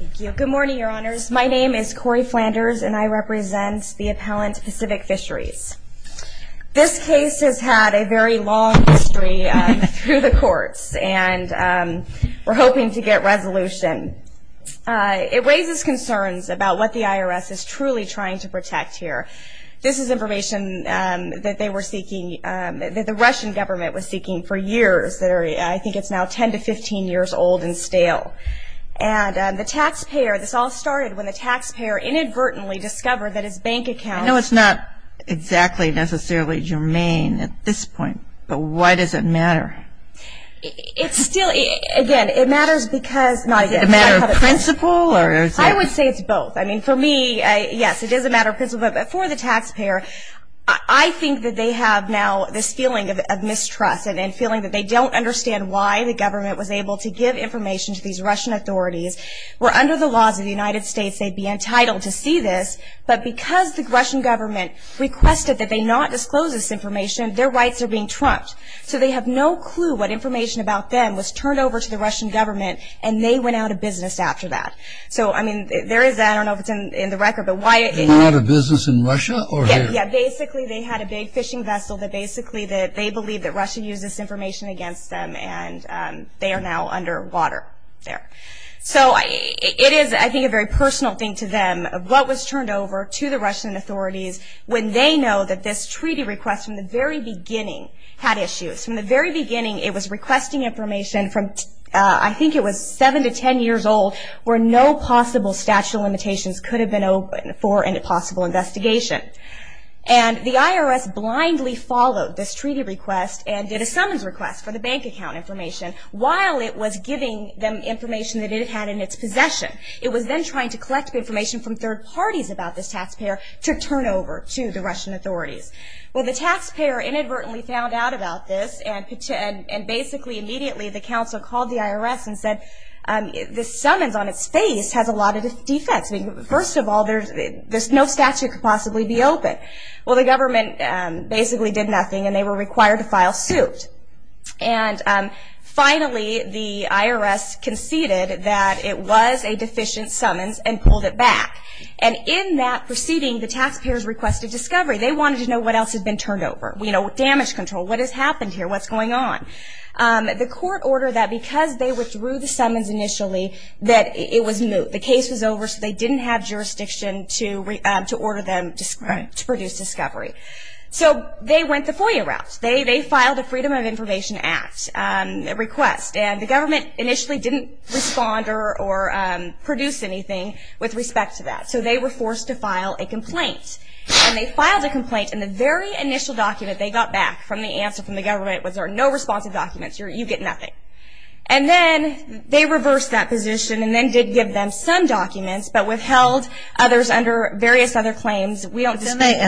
Thank you. Good morning, your honors. My name is Cori Flanders and I represent the appellant Pacific Fisheries. This case has had a very long history through the courts and we're hoping to get resolution. It raises concerns about what the IRS is truly trying to protect here. This is information that they were seeking, that the Russian government was seeking for years. I think it's now 10 to 15 years old and stale. And the taxpayer, this all started when the taxpayer inadvertently discovered that his bank account... I know it's not exactly necessarily germane at this point, but why does it matter? It's still, again, it matters because... Is it a matter of principle? I would say it's both. I mean, for me, yes, it is a matter of principle, but for the taxpayer, I think that they have now this feeling of mistrust and feeling that they don't understand why the government was able to give information to these Russian authorities, where under the laws of the United States they'd be entitled to see this, but because the Russian government requested that they not disclose this information, their rights are being trumped. So they have no clue what information about them was turned over to the Russian government and they went out of business after that. So, I mean, there is that, I don't know if it's in the record, but why... Went out of business in Russia? Yeah, basically they had a big fishing vessel that basically that they believe that Russia used this information against them and they are now underwater there. So it is, I think, a very personal thing to them of what was turned over to the Russian authorities when they know that this treaty request from the very beginning had issues. From the very beginning, it was requesting information from, I think it was seven to ten years old, where no possible statute of And the IRS blindly followed this treaty request and did a summons request for the bank account information while it was giving them information that it had in its possession. It was then trying to collect information from third parties about this taxpayer to turn over to the Russian authorities. Well, the taxpayer inadvertently found out about this and basically immediately the council called the IRS and said, this summons on its face has a lot of Well, the government basically did nothing and they were required to file suit. And finally, the IRS conceded that it was a deficient summons and pulled it back. And in that proceeding, the taxpayers requested discovery. They wanted to know what else had been turned over. You know, damage control. What has happened here? What's going on? The court ordered that because they withdrew the summons initially, that it was moot. The case was over so they didn't have to produce discovery. So they went the FOIA route. They filed a Freedom of Information Act request and the government initially didn't respond or produce anything with respect to that. So they were forced to file a complaint. And they filed a complaint and the very initial document they got back from the answer from the government was there are no responsive documents. You get nothing. And then they reversed that position and then did give them some claims. And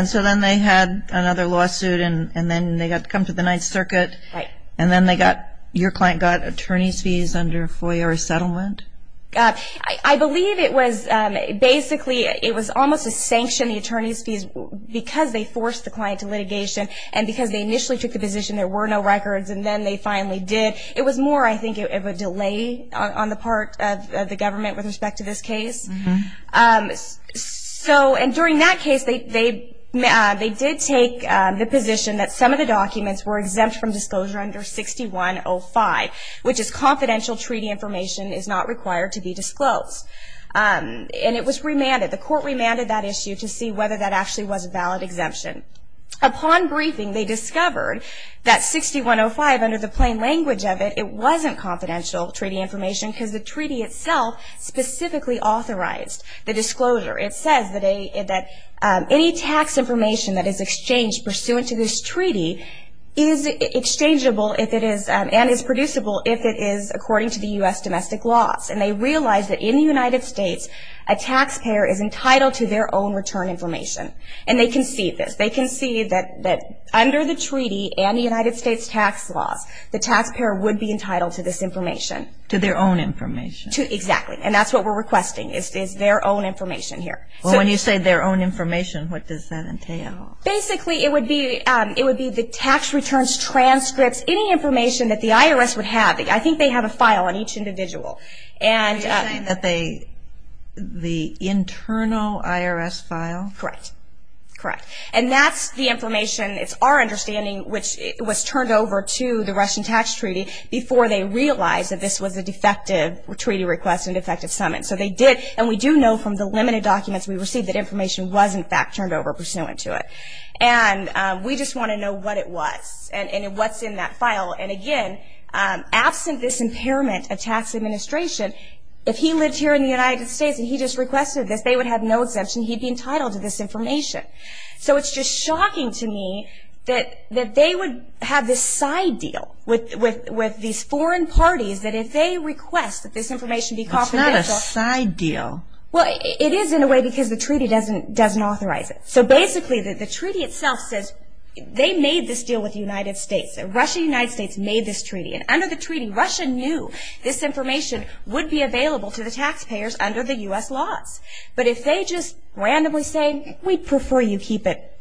so then they had another lawsuit and then they got to come to the Ninth Circuit. And then they got, your client got attorney's fees under FOIA resettlement? I believe it was basically, it was almost a sanction, the attorney's fees, because they forced the client to litigation and because they initially took the position there were no records and then they finally did. It was more, I think, of a delay on the part of the government with respect to this case. And during that case they did take the position that some of the documents were exempt from disclosure under 6105, which is confidential treaty information is not required to be disclosed. And it was remanded, the court remanded that issue to see whether that actually was a valid exemption. Upon briefing they discovered that 6105, under the plain language of it, it wasn't confidential treaty information because the treaty itself specifically authorized the disclosure. It says that any tax information that is exchanged pursuant to this treaty is exchangeable if it is, and is producible if it is according to the U.S. domestic laws. And they realized that in the United States a taxpayer is entitled to their own return information. And they concede this. They concede that under the treaty and the United States tax laws the taxpayer would be entitled to this information. To their own requesting. It's their own information here. Well, when you say their own information, what does that entail? Basically, it would be the tax returns, transcripts, any information that the IRS would have. I think they have a file on each individual. Are you saying that they, the internal IRS file? Correct. Correct. And that's the information, it's our understanding, which was turned over to the Russian tax treaty before they realized that this was a defective treaty request and defective summons. So they did, and we do know from the limited documents we received that information was in fact turned over pursuant to it. And we just want to know what it was and what's in that file. And again, absent this impairment of tax administration, if he lived here in the United States and he just requested this, they would have no exemption. He'd be entitled to this information. So it's just shocking to me that they would have this side deal with these foreign parties that if they request that this information be confidential. It's not a side deal. Well, it is in a way because the treaty doesn't authorize it. So basically, the treaty itself says they made this deal with the United States. Russia and the United States made this treaty. And under the treaty, Russia knew this information would be available to the taxpayers under the U.S. laws. But if they just randomly say, we'd prefer you keep it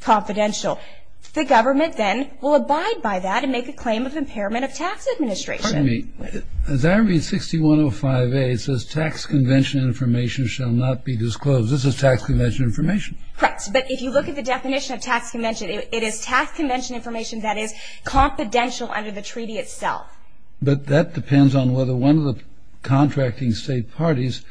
confidential, the government then will abide by that and make a claim of impairment of tax administration. Excuse me. As I read 6105A, it says, tax convention information shall not be disclosed. This is tax convention information. Correct. But if you look at the definition of tax convention, it is tax convention information that is confidential under the treaty itself. But that depends on whether one of the contracting state parties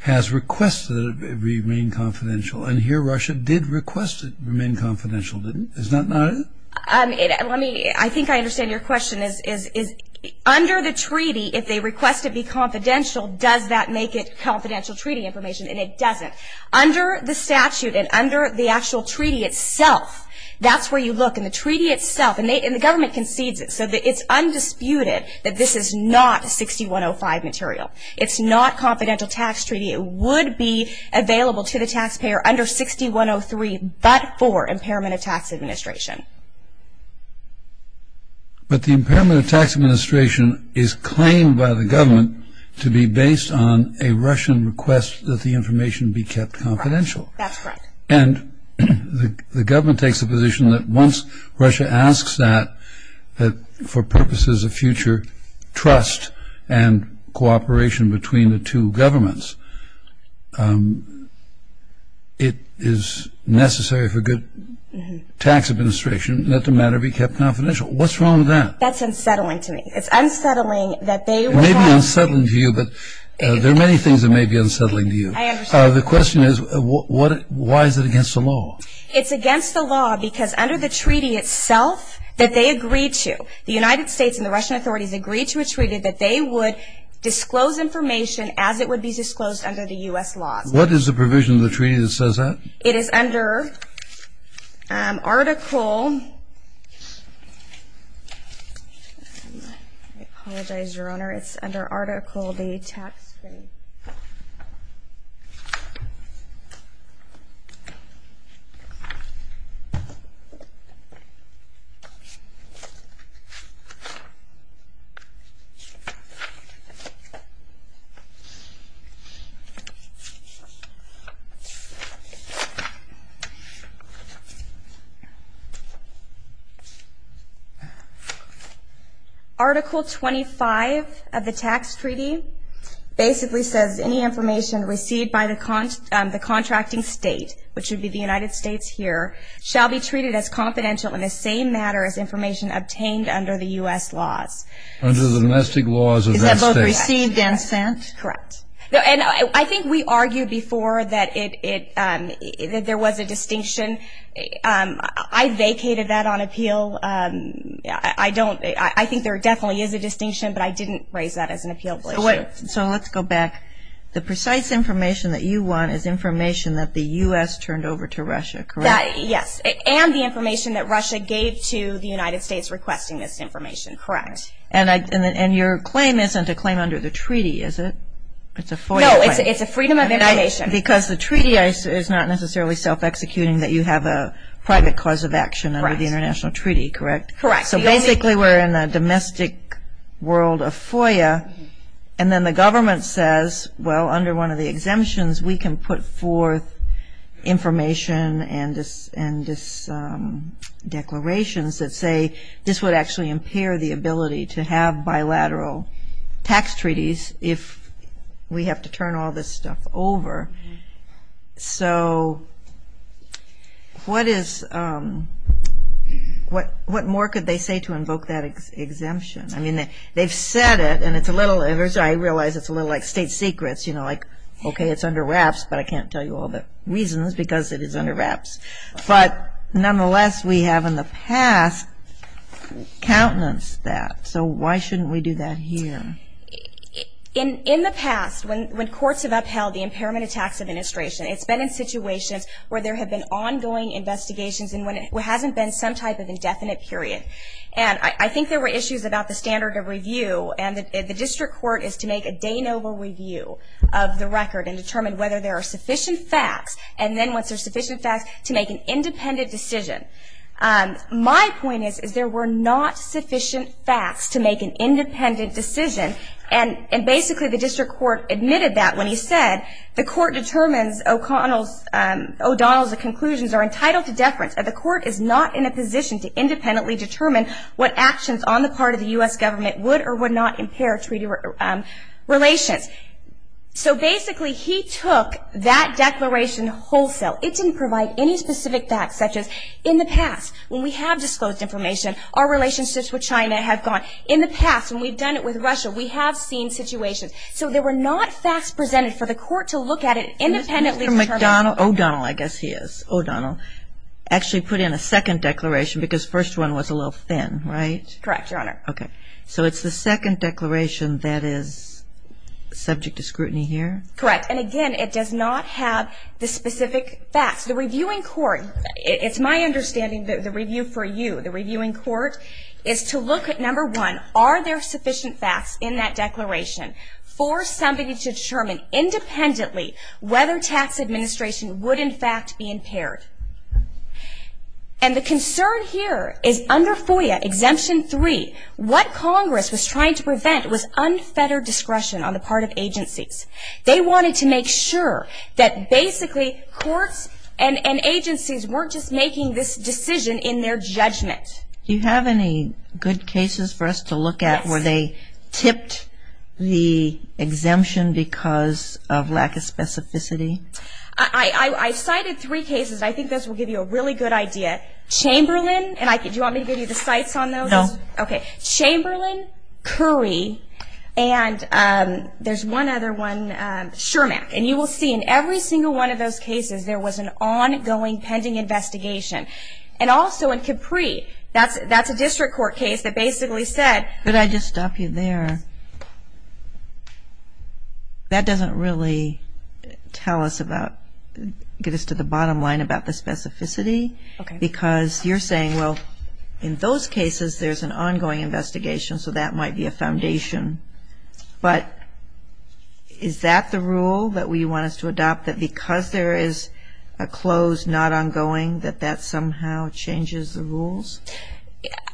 has requested that it remain confidential. And here, Russia did request it remain confidential, didn't it? Is that not it? I think I understand your question. Under the treaty, if they request it be confidential, does that make it confidential treaty information? And it doesn't. Under the statute and under the actual treaty itself, that's where you look. In the treaty itself, and the government concedes it. So it's undisputed that this is not 6105 material. It's not confidential tax treaty. It would be available to the taxpayer under 6103, but for the impairment of tax administration is claimed by the government to be based on a Russian request that the information be kept confidential. That's right. And the government takes the position that once Russia asks that, that for purposes of future trust and cooperation between the two countries, that the matter be kept confidential. What's wrong with that? That's unsettling to me. It's unsettling that they request it. It may be unsettling to you, but there are many things that may be unsettling to you. I understand. The question is, why is it against the law? It's against the law because under the treaty itself that they agreed to, the United States and the Russian authorities agreed to a treaty that they would disclose information as it would be disclosed under the U.S. laws. What is the provision of the treaty that says that? It is under article. I apologize, Your Honor, it's under article the tax. Article 25 of the tax treaty basically says any information received by the contracting state, which would be the United States here, shall be treated as confidential in the same matter as information obtained under the U.S. laws. Under the domestic laws of that state. Is that both received and sent? Correct. And I think we argued before that there was a distinction. I vacated that on appeal. I think there definitely is a distinction, but I didn't raise that as an appeal. So let's go back. The precise information that you want is information that the U.S. turned over to Russia, correct? Yes, and the information that Russia gave to the United States requesting this information, correct. And your claim isn't a claim under the treaty, is it? It's a FOIA claim. No, it's a freedom of information. Because the treaty is not necessarily self-executing that you have a private cause of action under the international treaty, correct? Correct. So basically we're in a domestic world of FOIA, and then the government says, well, under one of the exemptions we can put forth information and declarations that say this would actually impair the ability to have bilateral tax treaties if we have to turn all this stuff over. So what more could they say to invoke that exemption? I mean, they've said it, and I realize it's a little like state secrets, you know, like, okay, it's under wraps, but I can't tell you all the reasons because it is under wraps. But nonetheless, we have in the past countenanced that. So why shouldn't we do that here? In the past, when courts have upheld the impairment of tax administration, it's been in situations where there have been ongoing investigations and when it hasn't been some type of indefinite period. And I think there were issues about the standard of review, and the district court is to make a de novo review of the record and determine whether there are sufficient facts. And then once there are sufficient facts, to make an independent decision. My point is, is there were not sufficient facts to make an independent decision. And basically the district court admitted that when he said, the court determines O'Donnell's conclusions are entitled to deference. The court is not in a position to independently determine what actions on the part of the U.S. government would or would not impair treaty relations. So basically he took that declaration wholesale. It didn't provide any specific facts, such as in the past, when we have disclosed information, our relationships with China have gone. In the past, when we've done it with Russia, we have seen situations. So there were not facts presented for the court to look at it independently. Ms. McDonnell, O'Donnell I guess he is, O'Donnell, actually put in a second declaration because the first one was a little thin, right? Correct, Your Honor. Okay. So it's the second declaration that is subject to scrutiny here? Correct. And again, it does not have the specific facts. The reviewing court, it's my understanding that the review for you, the reviewing court, is to look at, number one, are there sufficient facts in that declaration for somebody to determine independently whether tax administration would in fact be impaired. And the concern here is under FOIA Exemption 3, what Congress was trying to prevent was unfettered discretion on the part of agencies. They wanted to make sure that basically courts and agencies weren't just making this decision in their judgment. Do you have any good cases for us to look at where they tipped the exemption because of lack of specificity? I cited three cases. I think those will give you a really good idea. Chamberlain, and do you want me to give you the cites on those? Okay. Chamberlain, Curry, and there's one other one, Shurmack. And you will see in every single one of those cases there was an ongoing pending investigation. And also in Capri, that's a district court case that basically said. Could I just stop you there? That doesn't really tell us about, get us to the bottom line about the specificity. Okay. Because you're saying, well, in those cases there's an ongoing investigation, so that might be a foundation. But is that the rule that we want us to adopt, that because there is a close not ongoing that that somehow changes the rules?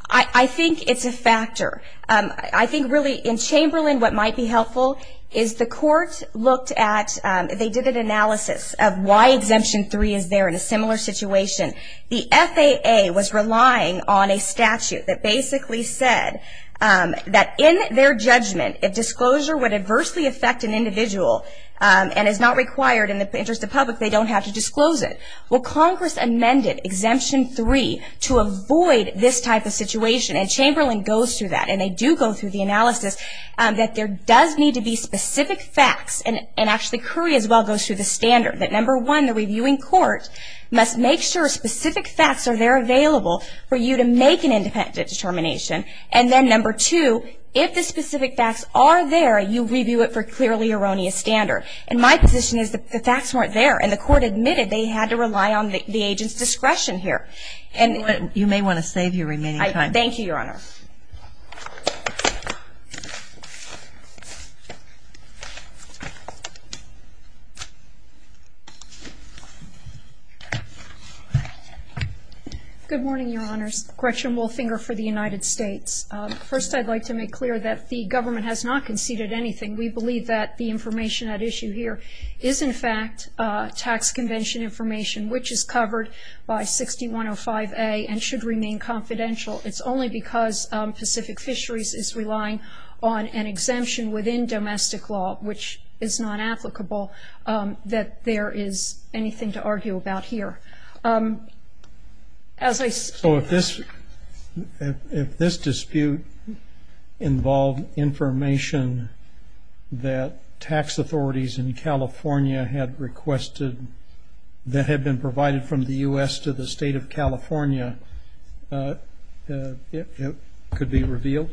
I think it's a factor. I think really in Chamberlain what might be helpful is the court looked at, they did an analysis of why Exemption 3 is there in a similar situation. The FAA was relying on a statute that basically said that in their judgment, if disclosure would adversely affect an individual and is not required in the interest of public, they don't have to disclose it. Well, Congress amended Exemption 3 to avoid this type of situation, and Chamberlain goes through that, and they do go through the analysis, that there does need to be specific facts, and actually Curry as well goes through the standard, that number one, the reviewing court must make sure specific facts are there available for you to make an independent determination. And then number two, if the specific facts are there, you review it for clearly erroneous standard. And my position is the facts weren't there, and the court admitted they had to rely on the agent's discretion here. You may want to save your remaining time. Thank you, Your Honor. Good morning, Your Honors. Gretchen Wolfinger for the United States. First, I'd like to make clear that the government has not conceded anything. We believe that the information at issue here is in fact tax convention information, which is covered by 6105A and should remain confidential. It's only because Pacific Fisheries is relying on an exemption within domestic law, which is not applicable, that there is anything to argue about here. So if this dispute involved information that tax authorities in California had requested that had been provided from the U.S. to the state of California, it could be revealed?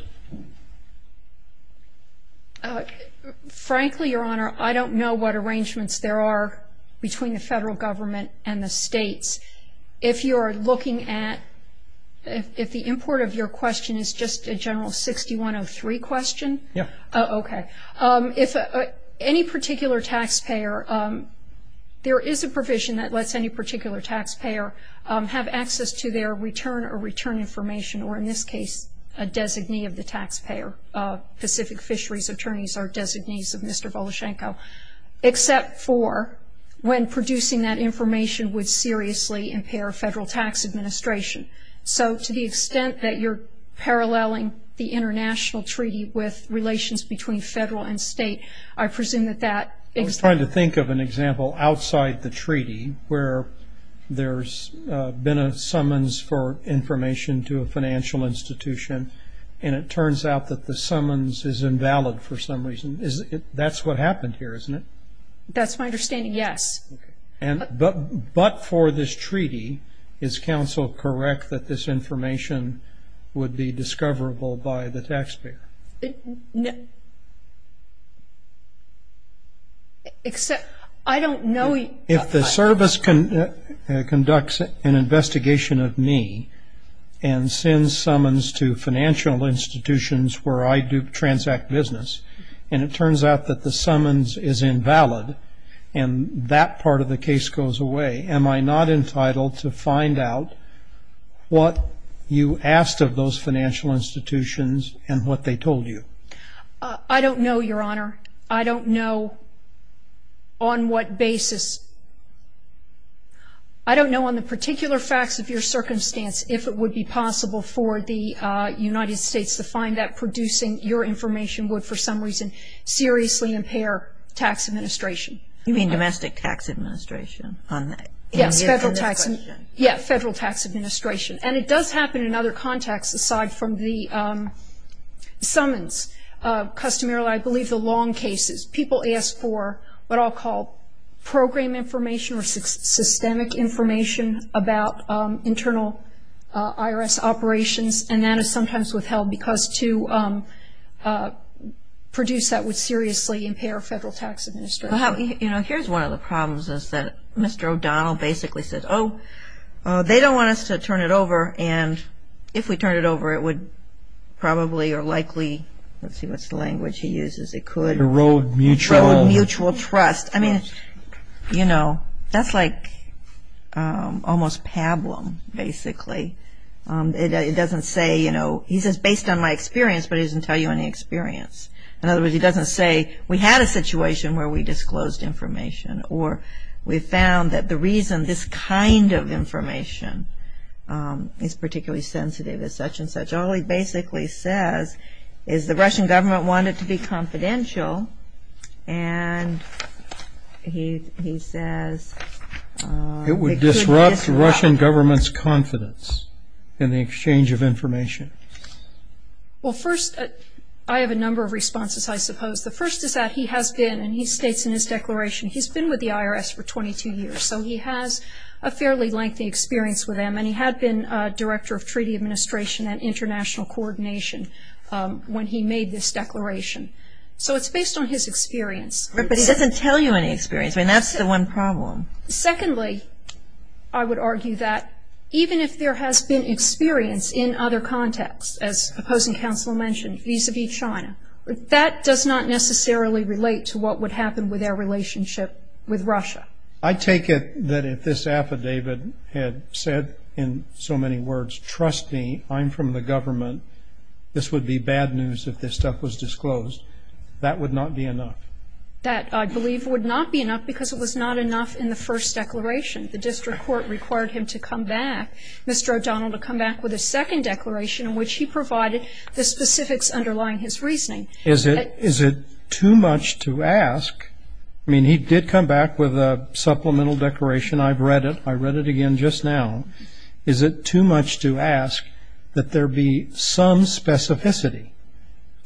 Frankly, Your Honor, I don't know what arrangements there are between the federal government and the states. If you are looking at the import of your question is just a general 6103 question? Yes. Okay. Any particular taxpayer, there is a provision that lets any particular taxpayer have access to their return or return information, or in this case a designee of the taxpayer. Pacific Fisheries attorneys are designees of Mr. Voloshenko, except for when producing that information would seriously impair federal tax administration. So to the extent that you're paralleling the international treaty with relations between federal and state, I presume that that is... I was trying to think of an example outside the treaty where there's been a summons for information to a financial institution, and it turns out that the summons is invalid for some reason. That's what happened here, isn't it? That's my understanding, yes. But for this treaty, is counsel correct that this information would be discoverable by the taxpayer? If the service conducts an investigation of me and sends summons to financial institutions where I do transact business, and it turns out that the summons is invalid, and that part of the case goes away, am I not entitled to find out what you asked of those financial institutions and what they told you? I don't know, Your Honor. I don't know on what basis. I don't know on the particular facts of your circumstance if it would be possible for the United States to find that producing your information would for some reason seriously impair tax administration. You mean domestic tax administration? Yes, federal tax administration. And it does happen in other contexts aside from the summons. Customarily, I believe the long cases, people ask for what I'll call program information or systemic information about internal IRS operations, and that is sometimes withheld because to produce that would seriously impair federal tax administration. You know, here's one of the problems is that Mr. O'Donnell basically says, oh, they don't want us to turn it over, and if we turn it over it would probably or likely, let's see what language he uses, it could erode mutual trust. I mean, you know, that's like almost pablum, basically. It doesn't say, you know, he says based on my experience, but he doesn't tell you any experience. In other words, he doesn't say we had a situation where we disclosed information or we found that the reason this kind of information is particularly sensitive as such and such. All he basically says is the Russian government wanted to be confidential, and he says it could disrupt. It would disrupt Russian government's confidence in the exchange of information. Well, first, I have a number of responses, I suppose. The first is that he has been, and he states in his declaration, he's been with the IRS for 22 years, so he has a fairly lengthy experience with them, and he had been Director of Treaty Administration and International Coordination when he made this declaration. So it's based on his experience. But he doesn't tell you any experience. I mean, that's the one problem. Secondly, I would argue that even if there has been experience in other contexts, as Opposing Counsel mentioned, vis-a-vis China, that does not necessarily relate to what would happen with our relationship with Russia. I take it that if this affidavit had said in so many words, trust me, I'm from the government, this would be bad news if this stuff was disclosed, that would not be enough. That, I believe, would not be enough because it was not enough in the first declaration. The district court required him to come back, Mr. O'Donnell, to come back with a second declaration in which he provided the specifics underlying his reasoning. Is it too much to ask? I mean, he did come back with a supplemental declaration. I've read it. I read it again just now. Is it too much to ask that there be some specificity?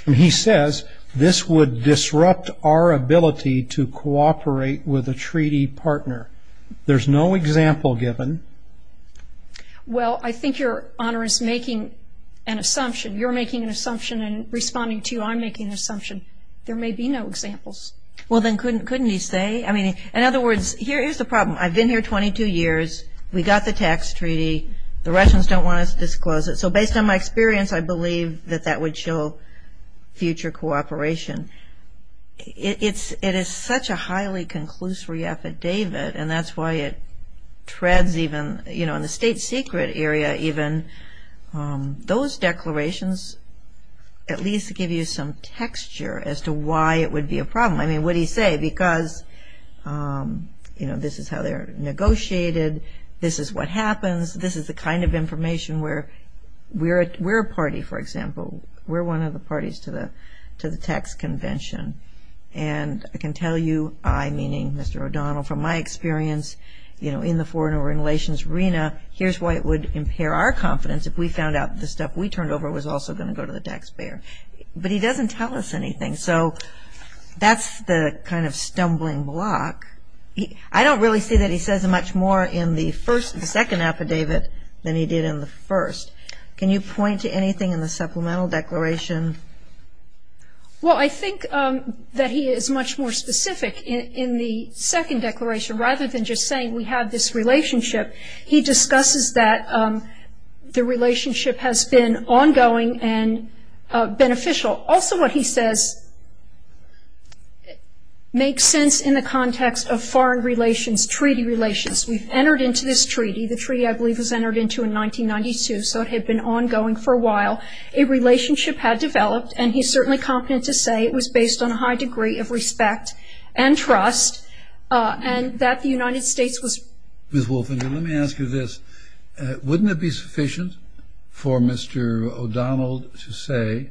I mean, he says this would disrupt our ability to cooperate with a treaty partner. There's no example given. Well, I think Your Honor is making an assumption. You're making an assumption and responding to you, I'm making an assumption. There may be no examples. Well, then couldn't he say? I mean, in other words, here is the problem. I've been here 22 years. We got the tax treaty. The Russians don't want us to disclose it. So based on my experience, I believe that that would show future cooperation. It is such a highly conclusory affidavit, and that's why it treads even, you know, in the state secret area even. Those declarations at least give you some texture as to why it would be a problem. I mean, what do you say? Because, you know, this is how they're negotiated. This is what happens. This is the kind of information where we're a party, for example. We're one of the parties to the tax convention. And I can tell you, I, meaning Mr. O'Donnell, from my experience, you know, in the foreign relations arena, here's why it would impair our confidence if we found out the stuff we turned over was also going to go to the taxpayer. But he doesn't tell us anything. So that's the kind of stumbling block. I don't really see that he says much more in the second affidavit than he did in the first. Can you point to anything in the supplemental declaration? Well, I think that he is much more specific in the second declaration. Rather than just saying we have this relationship, he discusses that the relationship has been ongoing and beneficial. Also, what he says makes sense in the context of foreign relations, treaty relations. We've entered into this treaty. The treaty, I believe, was entered into in 1992, so it had been ongoing for a while. A relationship had developed, and he's certainly competent to say it was based on a high degree of respect and trust, and that the United States was ---- Ms. Wolfinger, let me ask you this. Wouldn't it be sufficient for Mr. O'Donnell to say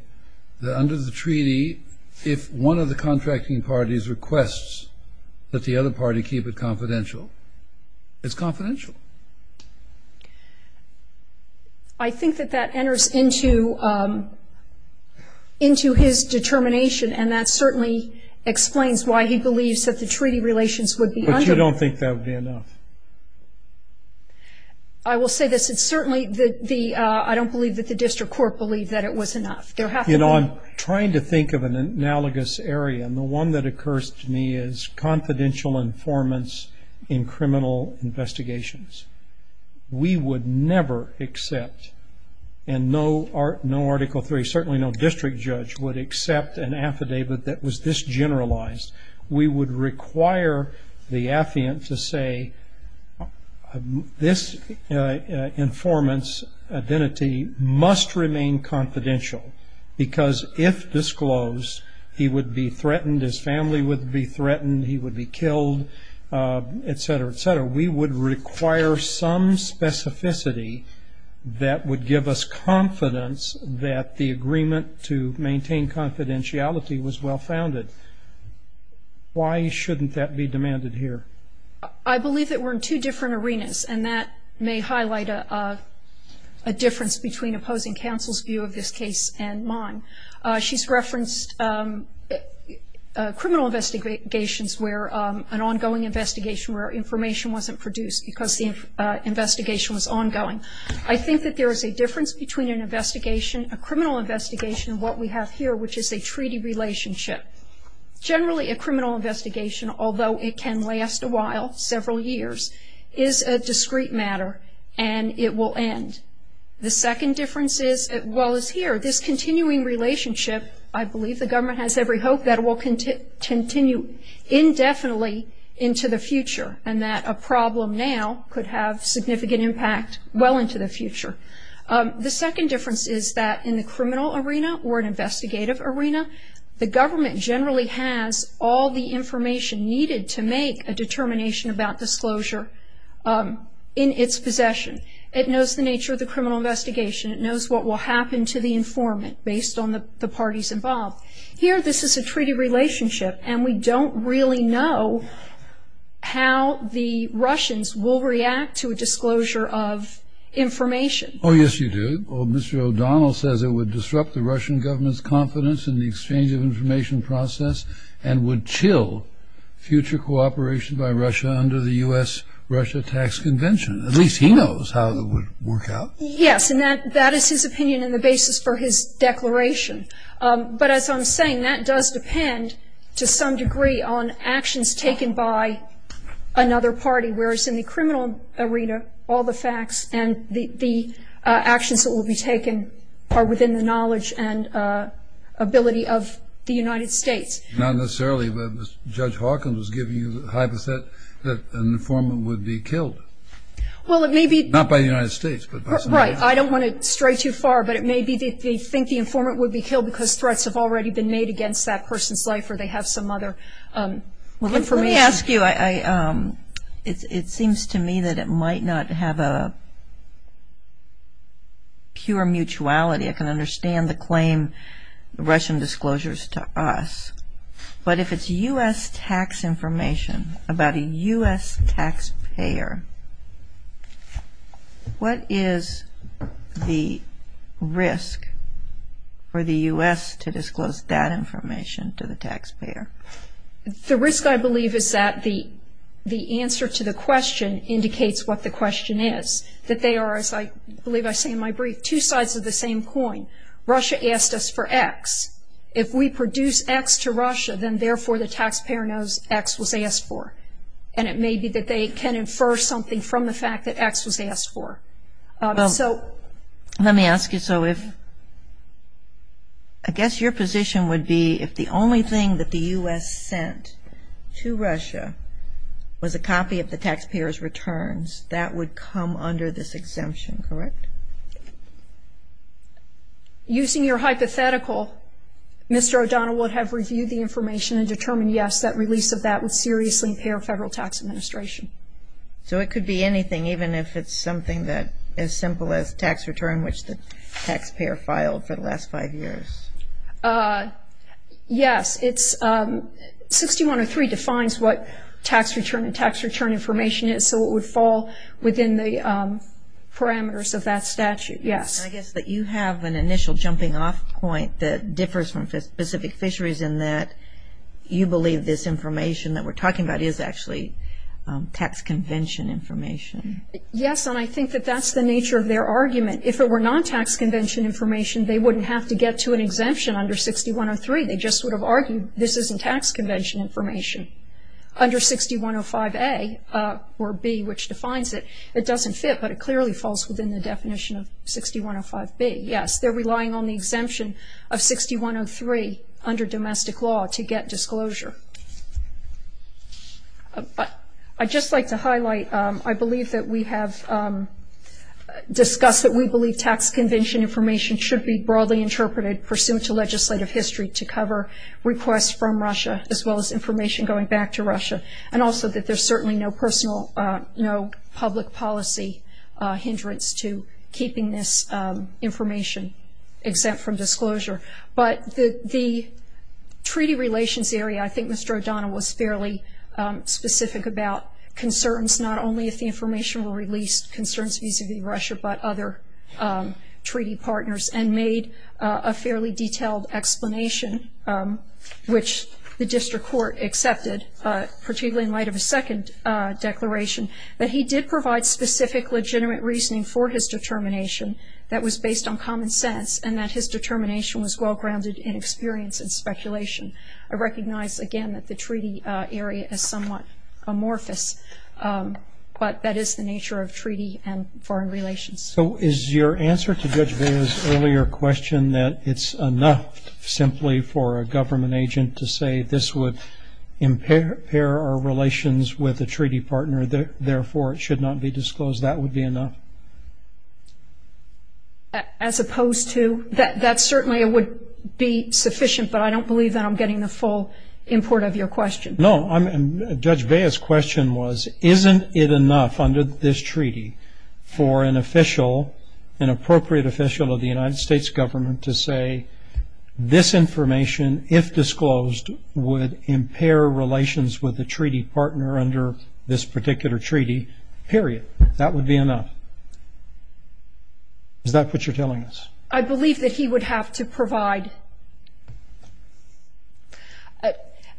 that under the treaty, if one of the contracting parties requests that the other party keep it confidential, it's confidential? I think that that enters into his determination, and that certainly explains why he believes that the treaty relations would be under ---- But you don't think that would be enough? I will say this. It's certainly the ---- I don't believe that the district court believed that it was enough. There have to be ---- You know, I'm trying to think of an analogous area, and the one that occurs to me is confidential informants in criminal investigations. We would never accept, and no Article III, certainly no district judge would accept an affidavit that was this generalized. We would require the affiant to say, this informant's identity must remain confidential, because if disclosed he would be threatened, his family would be threatened, he would be killed, et cetera, et cetera. We would require some specificity that would give us confidence that the agreement to maintain confidentiality was well-founded. Why shouldn't that be demanded here? I believe that we're in two different arenas, and that may highlight a difference between opposing counsel's view of this case and mine. She's referenced criminal investigations where an ongoing investigation where information wasn't produced because the investigation was ongoing. I think that there is a difference between an investigation, a criminal investigation, and what we have here, which is a treaty relationship. Generally, a criminal investigation, although it can last a while, several years, is a discrete matter, and it will end. The second difference is, as well as here, this continuing relationship, I believe the government has every hope that it will continue indefinitely into the future, and that a problem now could have significant impact well into the future. The second difference is that in the criminal arena or an investigative arena, the government generally has all the information needed to make a determination about disclosure in its possession. It knows the nature of the criminal investigation. It knows what will happen to the informant based on the parties involved. Here, this is a treaty relationship, and we don't really know how the Russians will react to a disclosure of information. Oh, yes, you do. Mr. O'Donnell says it would disrupt the Russian government's confidence in the exchange of information process and would chill future cooperation by Russia under the U.S.-Russia Tax Convention. At least he knows how it would work out. Yes, and that is his opinion and the basis for his declaration. But as I'm saying, that does depend to some degree on actions taken by another party, whereas in the criminal arena, all the facts and the actions that will be taken are within the knowledge and ability of the United States. Not necessarily, but Judge Hawkins was giving you the hypothesis that an informant would be killed. Well, it may be. Not by the United States. Right. I don't want to stray too far, but it may be that they think the informant would be killed because threats have already been made against that person's life or they have some other information. Let me ask you, it seems to me that it might not have a pure mutuality. I can understand the claim, the Russian disclosures to us, but if it's U.S. tax information about a U.S. taxpayer, what is the risk for the U.S. to disclose that information to the taxpayer? The risk, I believe, is that the answer to the question indicates what the question is, that they are, as I believe I say in my brief, two sides of the same coin. Russia asked us for X. If we produce X to Russia, then therefore the taxpayer knows X was asked for, and it may be that they can infer something from the fact that X was asked for. Let me ask you, so if, I guess your position would be if the only thing that the U.S. sent to Russia was a copy of the taxpayer's returns, that would come under this exemption, correct? Using your hypothetical, Mr. O'Donnell would have reviewed the information and determined, yes, that release of that would seriously impair federal tax administration. So it could be anything, even if it's something as simple as tax return, which the taxpayer filed for the last five years? Yes. 6103 defines what tax return and tax return information is, so it would fall within the parameters of that statute, yes. I guess that you have an initial jumping off point that differs from specific fisheries in that you believe this information that we're talking about is actually tax convention information. Yes, and I think that that's the nature of their argument. If it were non-tax convention information, they wouldn't have to get to an exemption under 6103. They just would have argued this isn't tax convention information. Under 6105A or B, which defines it, it doesn't fit, but it clearly falls within the definition of 6105B. Yes, they're relying on the exemption of 6103 under domestic law to get disclosure. But I'd just like to highlight I believe that we have discussed that we believe tax convention information should be broadly interpreted pursuant to legislative history to cover requests from Russia, as well as information going back to Russia, and also that there's certainly no public policy hindrance to keeping this information exempt from disclosure. But the treaty relations area, I think Mr. O'Donnell was fairly specific about concerns, not only if the information were released, concerns vis-a-vis Russia, but other treaty partners, and made a fairly detailed explanation, which the district court accepted, particularly in light of his second declaration, that he did provide specific legitimate reasoning for his determination that was based on common sense, and that his determination was well-grounded in experience and speculation. I recognize, again, that the treaty area is somewhat amorphous, but that is the nature of treaty and foreign relations. So is your answer to Judge Bea's earlier question that it's enough simply for a government agent to say this would impair our relations with a treaty partner, therefore it should not be disclosed, that would be enough? As opposed to? That certainly would be sufficient, but I don't believe that I'm getting the full import of your question. No. Judge Bea's question was, isn't it enough under this treaty for an official, an appropriate official of the United States government to say this information, if disclosed, would impair relations with a treaty partner under this particular treaty, period. That would be enough. Is that what you're telling us? I believe that he would have to provide.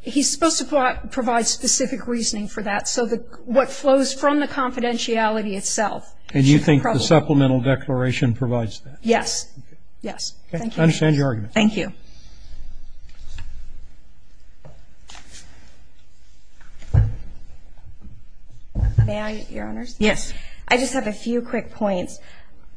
He's supposed to provide specific reasoning for that. So what flows from the confidentiality itself. And you think the supplemental declaration provides that? Yes. Yes. Thank you. I understand your argument. Thank you. May I, Your Honors? Yes. I just have a few quick points.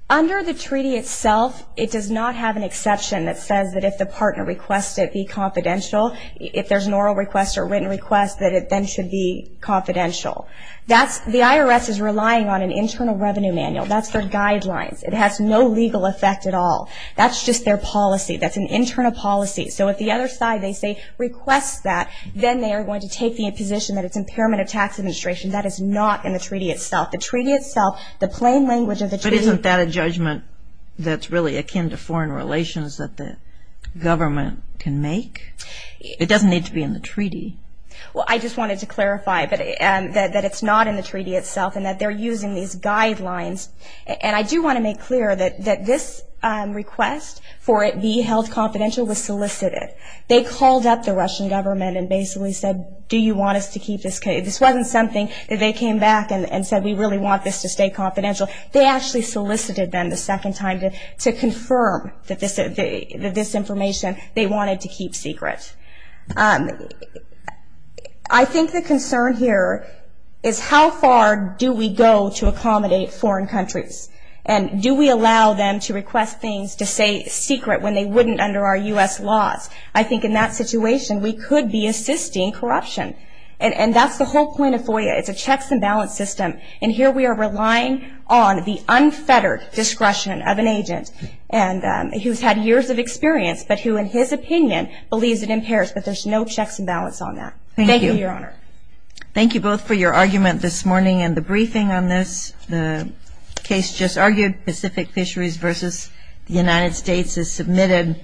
Under the treaty itself, it does not have an exception that says that if the partner requests it be confidential, if there's an oral request or written request, that it then should be confidential. The IRS is relying on an internal revenue manual. That's their guidelines. It has no legal effect at all. That's just their policy. That's an internal policy. So if the other side, they say, requests that, then they are going to take the imposition that it's impairment of tax administration. That is not in the treaty itself. The treaty itself, the plain language of the treaty. But isn't that a judgment that's really akin to foreign relations that the government can make? It doesn't need to be in the treaty. Well, I just wanted to clarify that it's not in the treaty itself and that they're using these guidelines. And I do want to make clear that this request for it be held confidential was solicited. They called up the Russian government and basically said, do you want us to keep this case? This wasn't something that they came back and said, we really want this to stay confidential. They actually solicited them the second time to confirm that this information, they wanted to keep secret. I think the concern here is how far do we go to accommodate foreign countries? And do we allow them to request things to stay secret when they wouldn't under our U.S. laws? I think in that situation, we could be assisting corruption. And that's the whole point of FOIA. It's a checks and balance system. And here we are relying on the unfettered discretion of an agent who's had years of experience, but who in his opinion believes it impairs. But there's no checks and balance on that. Thank you, Your Honor. Thank you both for your argument this morning and the briefing on this. The case just argued Pacific Fisheries versus the United States is submitted.